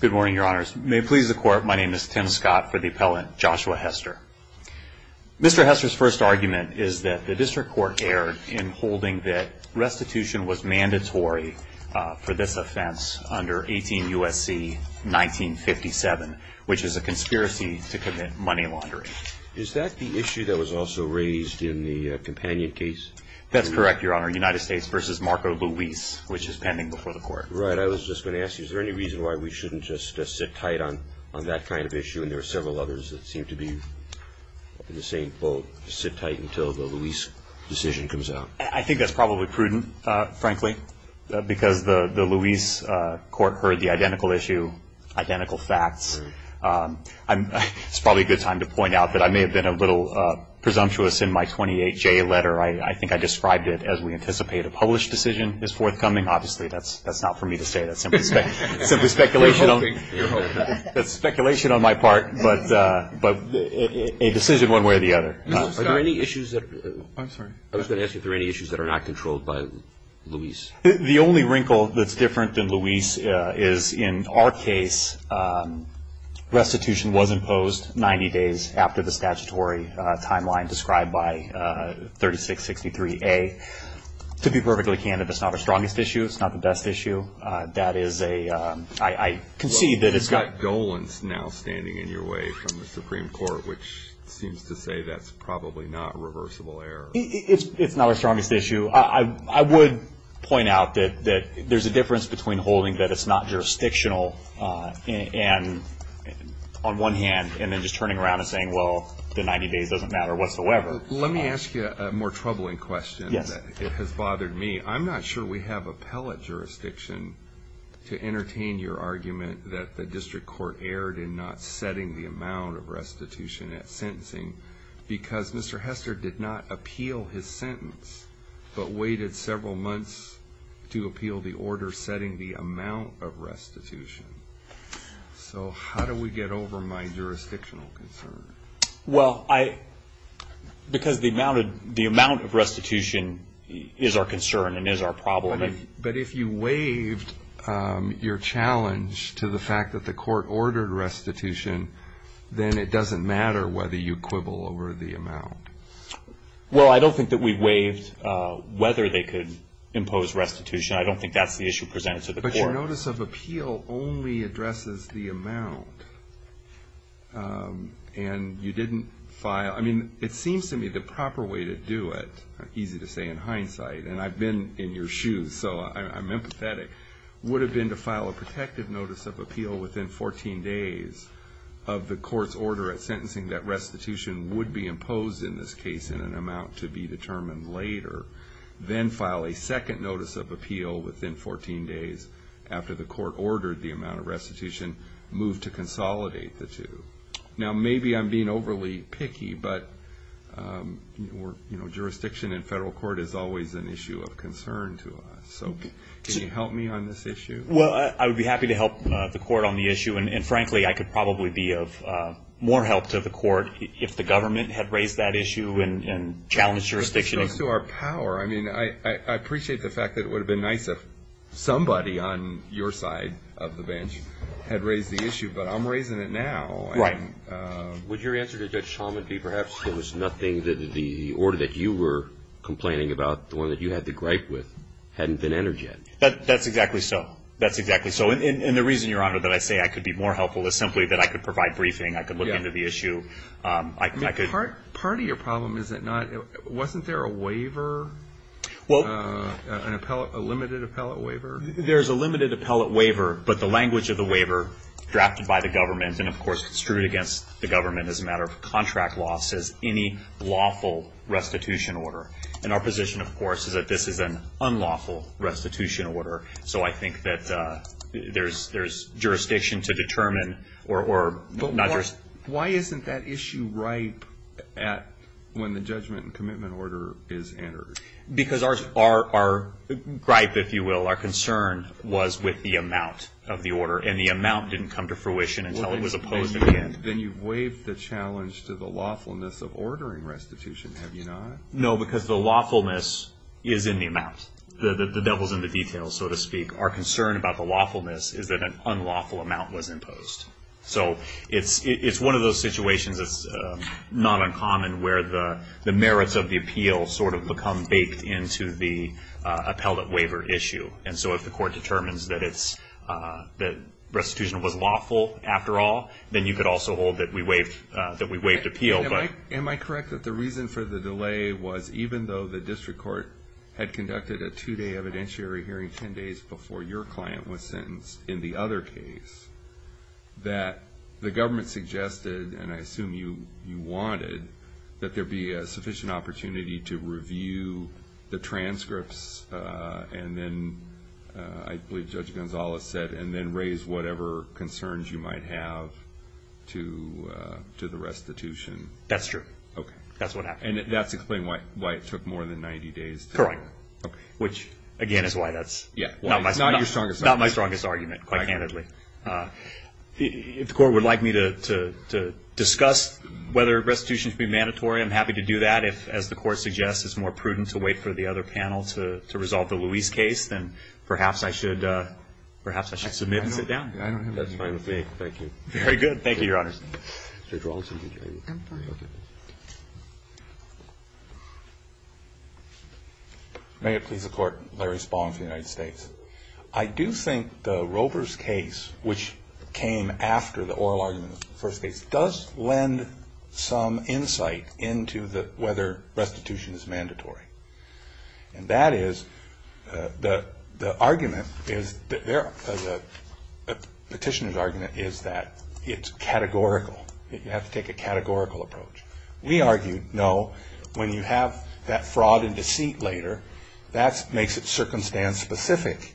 Good morning, your honors. May it please the court, my name is Tim Scott for the appellant Joshua Hester. Mr. Hester's first argument is that the district court erred in holding that restitution was mandatory for this offense under 18 U.S.C. 1957, which is a conspiracy to commit money laundering. Is that the issue that was also raised in the companion case? That's correct, your honor. United States v. Marco Luis, which is pending before the court. Right, I was just going to ask you, is there any reason why we shouldn't just sit tight on that kind of issue? And there are several others that seem to be in the same boat. Just sit tight until the Luis decision comes out. I think that's probably prudent, frankly, because the Luis court heard the identical issue, identical facts. It's probably a good time to point out that I may have been a little presumptuous in my 28J letter. I think I described it as we anticipate a published decision is forthcoming. Obviously, that's not for me to say. That's simply speculation on my part, but a decision one way or the other. Are there any issues that are not controlled by Luis? The only wrinkle that's different than Luis is in our case restitution was imposed 90 days after the statutory timeline described by 3663A. To be perfectly candid, that's not our strongest issue. It's not the best issue. I concede that it's got- Well, you've got Dolan now standing in your way from the Supreme Court, which seems to say that's probably not a reversible error. It's not our strongest issue. I would point out that there's a difference between holding that it's not jurisdictional on one hand and then just turning around and saying, well, the 90 days doesn't matter whatsoever. Let me ask you a more troubling question. Yes. It has bothered me. I'm not sure we have appellate jurisdiction to entertain your argument that the district court erred in not setting the amount of restitution at sentencing because Mr. Hester did not appeal his sentence but waited several months to appeal the order setting the amount of restitution. So how do we get over my jurisdictional concern? Well, because the amount of restitution is our concern and is our problem. But if you waived your challenge to the fact that the court ordered restitution, then it doesn't matter whether you quibble over the amount. Well, I don't think that we waived whether they could impose restitution. I don't think that's the issue presented to the court. Your notice of appeal only addresses the amount, and you didn't file. I mean, it seems to me the proper way to do it, easy to say in hindsight, and I've been in your shoes, so I'm empathetic, would have been to file a protective notice of appeal within 14 days of the court's order at sentencing that restitution would be imposed in this case in an amount to be determined later, then file a second notice of appeal within 14 days after the court ordered the amount of restitution, move to consolidate the two. Now, maybe I'm being overly picky, but jurisdiction in federal court is always an issue of concern to us. So can you help me on this issue? Well, I would be happy to help the court on the issue, and frankly, I could probably be of more help to the court if the government had raised that issue and challenged jurisdiction. I mean, it goes to our power. I mean, I appreciate the fact that it would have been nice if somebody on your side of the bench had raised the issue, but I'm raising it now. Right. Would your answer to Judge Shulman be perhaps there was nothing that the order that you were complaining about, the one that you had the gripe with, hadn't been entered yet? That's exactly so. That's exactly so. And the reason, Your Honor, that I say I could be more helpful is simply that I could provide briefing, I could look into the issue. Part of your problem is that wasn't there a waiver, a limited appellate waiver? There's a limited appellate waiver, but the language of the waiver drafted by the government, and, of course, it's true against the government as a matter of contract law, says any lawful restitution order. And our position, of course, is that this is an unlawful restitution order. So I think that there's jurisdiction to determine or not jurisdiction. Why isn't that issue ripe when the judgment and commitment order is entered? Because our gripe, if you will, our concern was with the amount of the order, and the amount didn't come to fruition until it was opposed again. Then you've waived the challenge to the lawfulness of ordering restitution, have you not? No, because the lawfulness is in the amount. The devil's in the details, so to speak. Our concern about the lawfulness is that an unlawful amount was imposed. So it's one of those situations that's not uncommon where the merits of the appeal sort of become baked into the appellate waiver issue. And so if the court determines that restitution was lawful after all, then you could also hold that we waived appeal. Am I correct that the reason for the delay was even though the district court had conducted a two-day evidentiary hearing 10 days before your client was sentenced in the other case, that the government suggested, and I assume you wanted, that there be a sufficient opportunity to review the transcripts and then, I believe Judge Gonzales said, and then raise whatever concerns you might have to the restitution? That's true. Okay. That's what happened. And that's to explain why it took more than 90 days? Correct. Okay. Which, again, is why that's not my strongest argument, quite candidly. If the court would like me to discuss whether restitution should be mandatory, I'm happy to do that. If, as the court suggests, it's more prudent to wait for the other panel to resolve the Luis case, then perhaps I should submit and sit down. That's fine with me. Thank you. Very good. Thank you, Your Honor. Judge Rawlinson. Judge Rawlinson, did you have anything? I'm fine. Okay. May it please the Court. Larry Spalding for the United States. I do think the Roper's case, which came after the oral argument in the first case, does lend some insight into whether restitution is mandatory. And that is, the argument is, the petitioner's argument is that it's categorical. You have to take a categorical approach. We argue, no, when you have that fraud and deceit later, that makes it circumstance specific.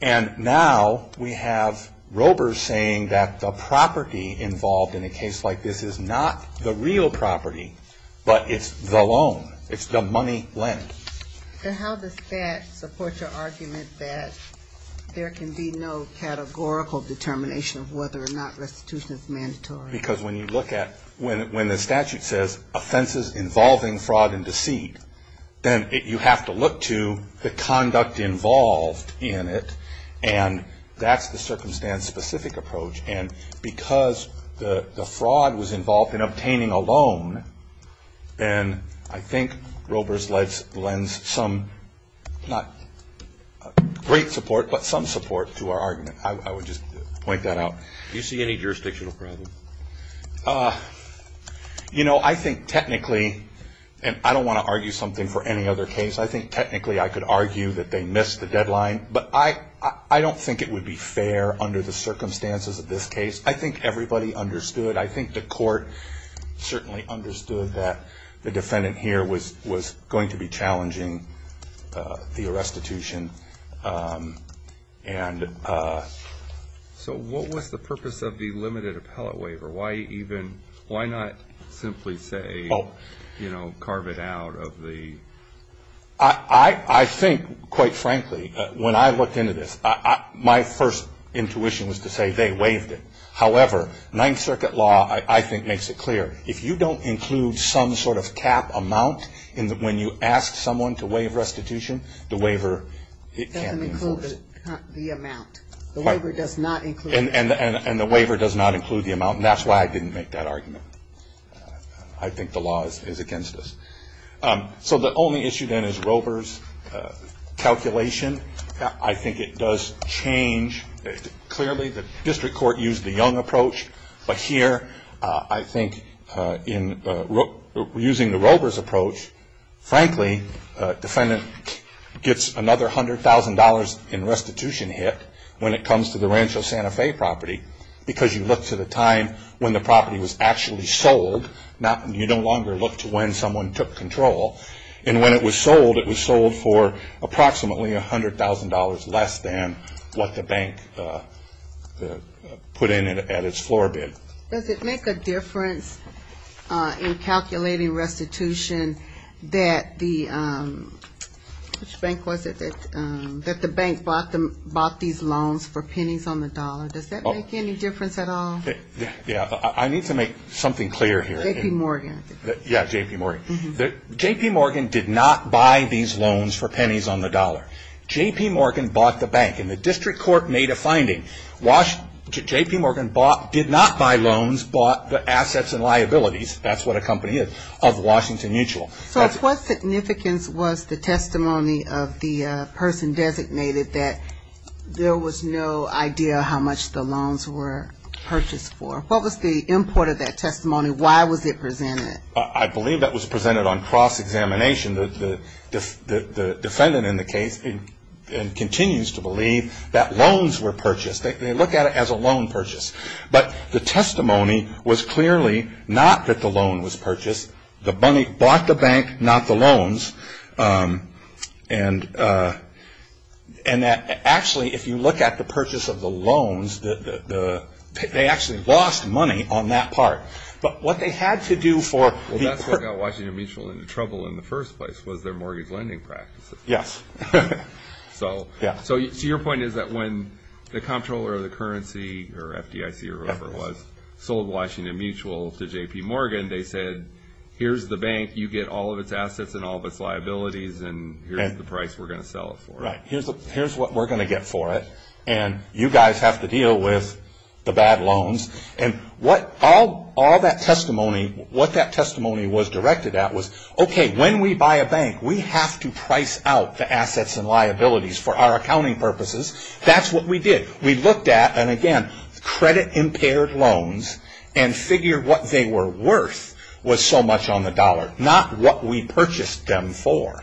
And now we have Roper saying that the property involved in a case like this is not the real property, but it's the loan. It's the money lent. And how does that support your argument that there can be no categorical determination of whether or not restitution is mandatory? Because when you look at, when the statute says, offenses involving fraud and deceit, then you have to look to the conduct involved in it, and that's the circumstance specific approach. And because the fraud was involved in obtaining a loan, then I think Roper's lends some, not great support, but some support to our argument. I would just point that out. Do you see any jurisdictional problems? You know, I think technically, and I don't want to argue something for any other case, I think technically I could argue that they missed the deadline, but I don't think it would be fair under the circumstances of this case. I think everybody understood. I think the court certainly understood that the defendant here was going to be challenging the restitution. So what was the purpose of the limited appellate waiver? Why not simply say, you know, carve it out of the? I think, quite frankly, when I looked into this, my first intuition was to say they waived it. However, Ninth Circuit law, I think, makes it clear. If you don't include some sort of cap amount when you ask someone to waive restitution, the waiver, it can't be enforced. It doesn't include the amount. The waiver does not include the amount. And the waiver does not include the amount, and that's why I didn't make that argument. I think the law is against us. So the only issue, then, is Roper's calculation. I think it does change. Clearly, the district court used the Young approach, but here I think in using the Roper's approach, frankly, defendant gets another $100,000 in restitution hit when it comes to the Rancho Santa Fe property because you look to the time when the property was actually sold. You no longer look to when someone took control. And when it was sold, it was sold for approximately $100,000 less than what the bank put in at its floor bid. Does it make a difference in calculating restitution that the bank bought these loans for pennies on the dollar? Does that make any difference at all? Yeah. I need to make something clear here. J.P. Morgan, I think. Yeah, J.P. Morgan. J.P. Morgan did not buy these loans for pennies on the dollar. J.P. Morgan bought the bank, and the district court made a finding. J.P. Morgan did not buy loans, bought the assets and liabilities, that's what a company is, of Washington Mutual. So what significance was the testimony of the person designated that there was no idea how much the loans were purchased for? What was the import of that testimony? Why was it presented? I believe that was presented on cross-examination. The defendant in the case continues to believe that loans were purchased. They look at it as a loan purchase. But the testimony was clearly not that the loan was purchased. The money bought the bank, not the loans. And actually, if you look at the purchase of the loans, they actually lost money on that part. Well, that's what got Washington Mutual into trouble in the first place, was their mortgage lending practices. Yes. So your point is that when the comptroller of the currency, or FDIC, or whoever it was, sold Washington Mutual to J.P. Morgan, they said, here's the bank, you get all of its assets and all of its liabilities, and here's the price we're going to sell it for. Right. Here's what we're going to get for it, and you guys have to deal with the bad loans. And all that testimony, what that testimony was directed at was, okay, when we buy a bank, we have to price out the assets and liabilities for our accounting purposes. That's what we did. We looked at, and again, credit-impaired loans and figured what they were worth was so much on the dollar, not what we purchased them for.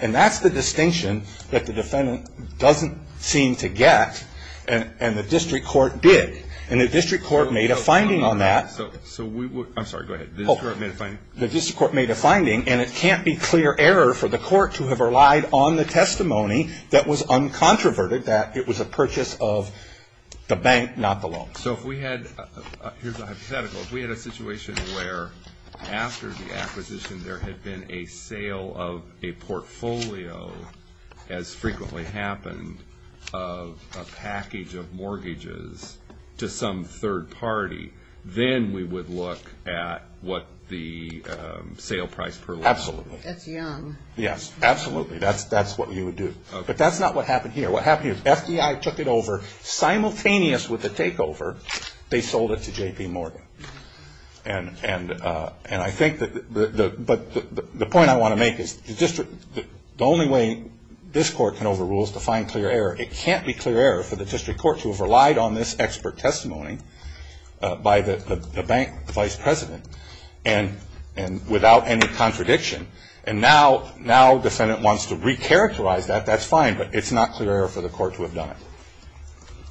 And that's the distinction that the defendant doesn't seem to get, and the district court did. And the district court made a finding on that. I'm sorry. Go ahead. The district court made a finding. The district court made a finding, and it can't be clear error for the court to have relied on the testimony that was uncontroverted, that it was a purchase of the bank, not the loan. So if we had, here's a hypothetical. If we had a situation where after the acquisition there had been a sale of a portfolio, as frequently happened, of a package of mortgages to some third party, then we would look at what the sale price per loan was. Absolutely. That's young. Yes, absolutely. That's what you would do. But that's not what happened here. What happened here is FDI took it over. Simultaneous with the takeover, they sold it to J.P. Morgan. And I think that the point I want to make is the only way this court can overrule is to find clear error. It can't be clear error for the district court to have relied on this expert testimony by the bank vice president and without any contradiction. And now defendant wants to recharacterize that. That's fine. But it's not clear error for the court to have done it.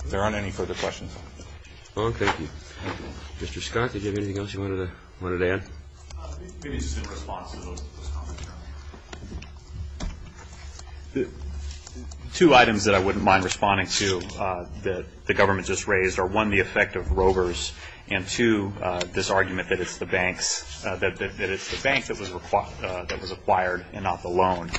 If there aren't any further questions. Thank you. Mr. Scott, did you have anything else you wanted to add? Maybe just in response to those comments. Two items that I wouldn't mind responding to that the government just raised are, one, the effect of rovers, and, two, this argument that it's the bank that was acquired and not the loan.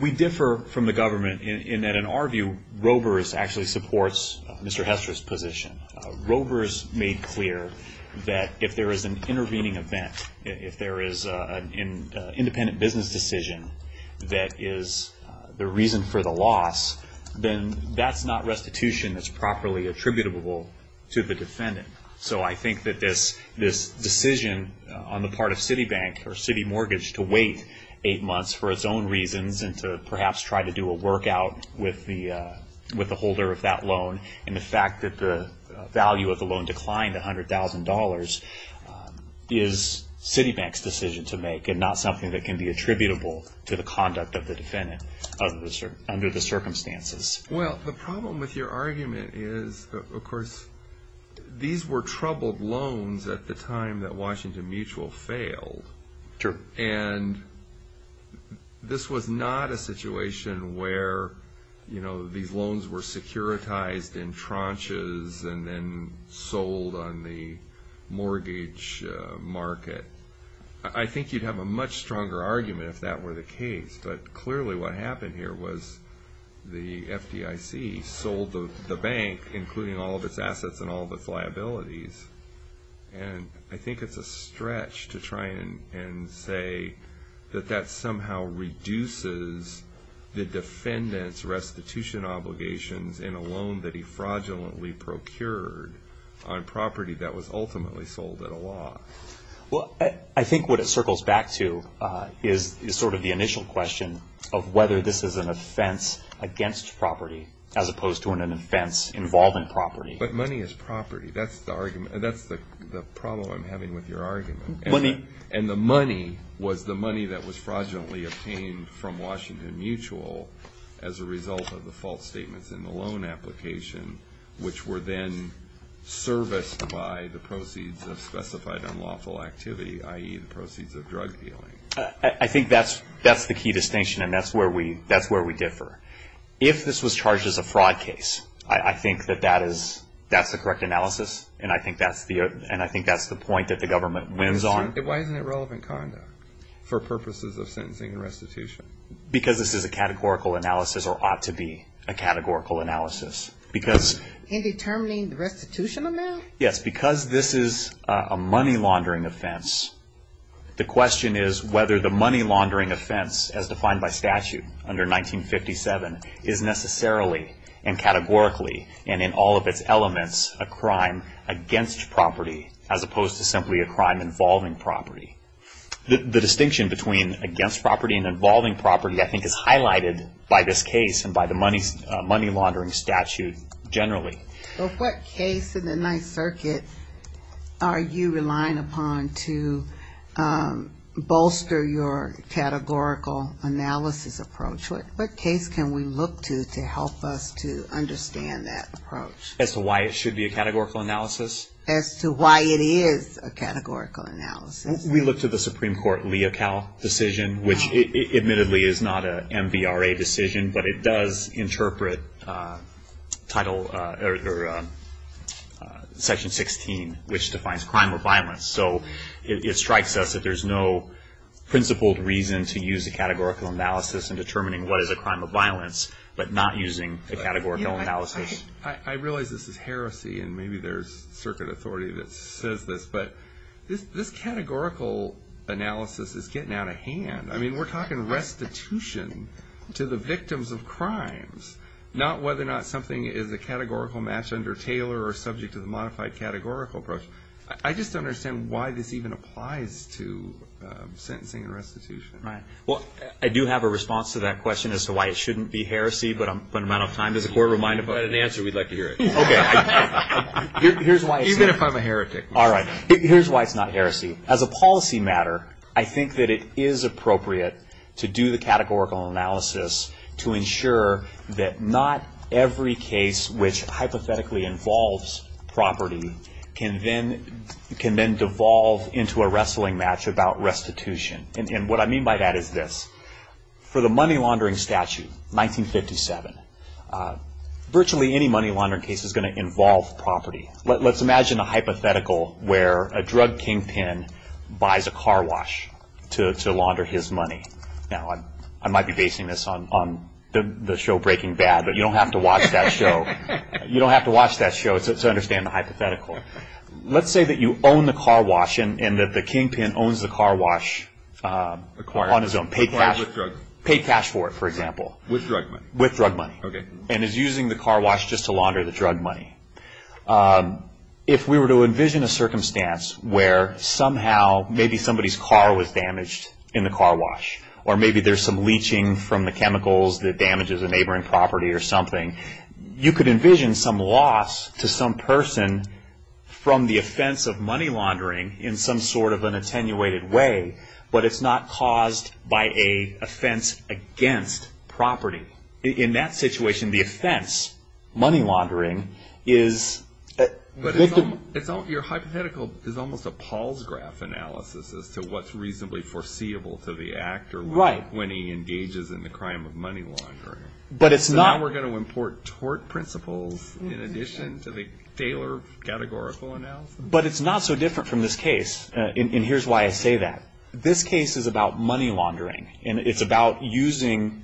We differ from the government in that, in our view, rovers actually supports Mr. Hester's position. Rovers made clear that if there is an intervening event, if there is an independent business decision that is the reason for the loss, then that's not restitution that's properly attributable to the defendant. So I think that this decision on the part of Citibank or City Mortgage to wait eight months for its own reasons and to perhaps try to do a workout with the holder of that loan and the fact that the value of the loan declined $100,000 is Citibank's decision to make and not something that can be attributable to the conduct of the defendant under the circumstances. Well, the problem with your argument is, of course, these were troubled loans at the time that Washington Mutual failed. And this was not a situation where these loans were securitized in tranches and then sold on the mortgage market. I think you'd have a much stronger argument if that were the case. But clearly what happened here was the FDIC sold the bank, including all of its assets and all of its liabilities. And I think it's a stretch to try and say that that somehow reduces the defendant's restitution obligations in a loan that he fraudulently procured on property that was ultimately sold at a loss. Well, I think what it circles back to is sort of the initial question of whether this is an offense against property as opposed to an offense involving property. But money is property. That's the problem I'm having with your argument. And the money was the money that was fraudulently obtained from Washington Mutual as a result of the false statements in the loan application, which were then serviced by the proceeds of specified unlawful activity, i.e., the proceeds of drug dealing. I think that's the key distinction, and that's where we differ. If this was charged as a fraud case, I think that that's the correct analysis, and I think that's the point that the government wins on. Why isn't it relevant conduct for purposes of sentencing and restitution? Because this is a categorical analysis or ought to be a categorical analysis. In determining the restitution amount? Yes, because this is a money laundering offense. The question is whether the money laundering offense, as defined by statute under 1957, is necessarily and categorically and in all of its elements a crime against property as opposed to simply a crime involving property. The distinction between against property and involving property, I think, is highlighted by this case and by the money laundering statute generally. But what case in the Ninth Circuit are you relying upon to bolster your categorical analysis approach? What case can we look to to help us to understand that approach? As to why it should be a categorical analysis? As to why it is a categorical analysis? We look to the Supreme Court Leocal decision, which admittedly is not an MVRA decision, but it does interpret Section 16, which defines crime or violence. So it strikes us that there's no principled reason to use a categorical analysis in determining what is a crime of violence, but not using a categorical analysis. I realize this is heresy, and maybe there's circuit authority that says this, but this categorical analysis is getting out of hand. I mean, we're talking restitution to the victims of crimes, not whether or not something is a categorical match under Taylor or subject to the modified categorical approach. I just don't understand why this even applies to sentencing and restitution. Right. Well, I do have a response to that question as to why it shouldn't be heresy, but I'm running out of time. Does the Court remind us? If you've got an answer, we'd like to hear it. Okay. Here's why it's here. Even if I'm a heretic. All right. Here's why it's not heresy. As a policy matter, I think that it is appropriate to do the categorical analysis to ensure that not every case which hypothetically involves property can then devolve into a wrestling match about restitution. And what I mean by that is this. For the money laundering statute, 1957, virtually any money laundering case is going to involve property. Let's imagine a hypothetical where a drug kingpin buys a car wash to launder his money. Now, I might be basing this on the show Breaking Bad, but you don't have to watch that show to understand the hypothetical. Let's say that you own the car wash and that the kingpin owns the car wash on his own. Acquired with drugs. Paid cash for it, for example. With drug money. With drug money. Okay. And is using the car wash just to launder the drug money. If we were to envision a circumstance where somehow maybe somebody's car was damaged in the car wash, or maybe there's some leaching from the chemicals that damages a neighboring property or something, you could envision some loss to some person from the offense of money laundering in some sort of an attenuated way, but it's not caused by an offense against property. In that situation, the offense, money laundering, is... But your hypothetical is almost a Paul's graph analysis as to what's reasonably foreseeable to the actor. Right. When he engages in the crime of money laundering. But it's not... So now we're going to import tort principles in addition to the Taylor categorical analysis. But it's not so different from this case, and here's why I say that. This case is about money laundering, and it's about using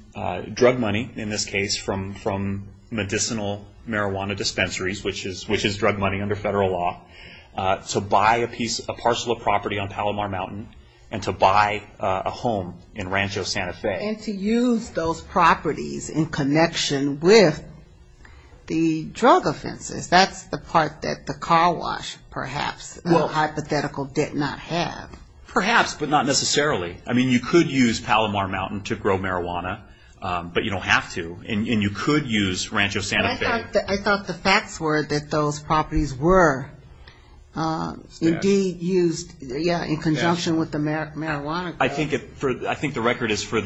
drug money, in this case, from medicinal marijuana dispensaries, which is drug money under federal law, to buy a parcel of property on Palomar Mountain and to buy a home in Rancho Santa Fe. And to use those properties in connection with the drug offenses. That's the part that the car wash, perhaps, hypothetical did not have. Perhaps, but not necessarily. I mean, you could use Palomar Mountain to grow marijuana, but you don't have to. And you could use Rancho Santa Fe. I thought the facts were that those properties were indeed used in conjunction with the marijuana. I think the record is for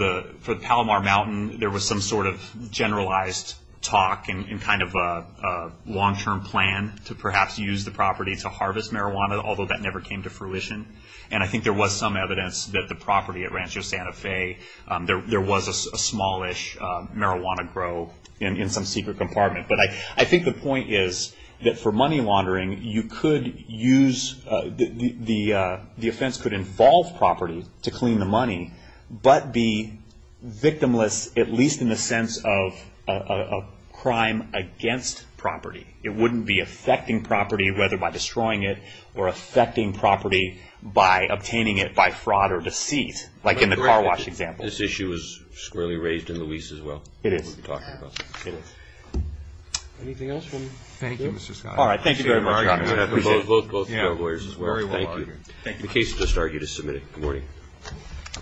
Palomar Mountain, there was some sort of generalized talk and kind of a long-term plan to perhaps use the property to harvest marijuana, although that never came to fruition. And I think there was some evidence that the property at Rancho Santa Fe, there was a smallish marijuana grow in some secret compartment. But I think the point is that for money laundering, the offense could involve property to clean the money, but be victimless, at least in the sense of a crime against property. It wouldn't be affecting property, whether by destroying it or affecting property by obtaining it by fraud or deceit, like in the car wash example. This issue is squarely raised in the lease as well. It is. Anything else from you? Thank you, Mr. Scott. All right, thank you very much. Appreciate it. Both fair lawyers as well. Thank you. The case has just started. You can submit it. Good morning.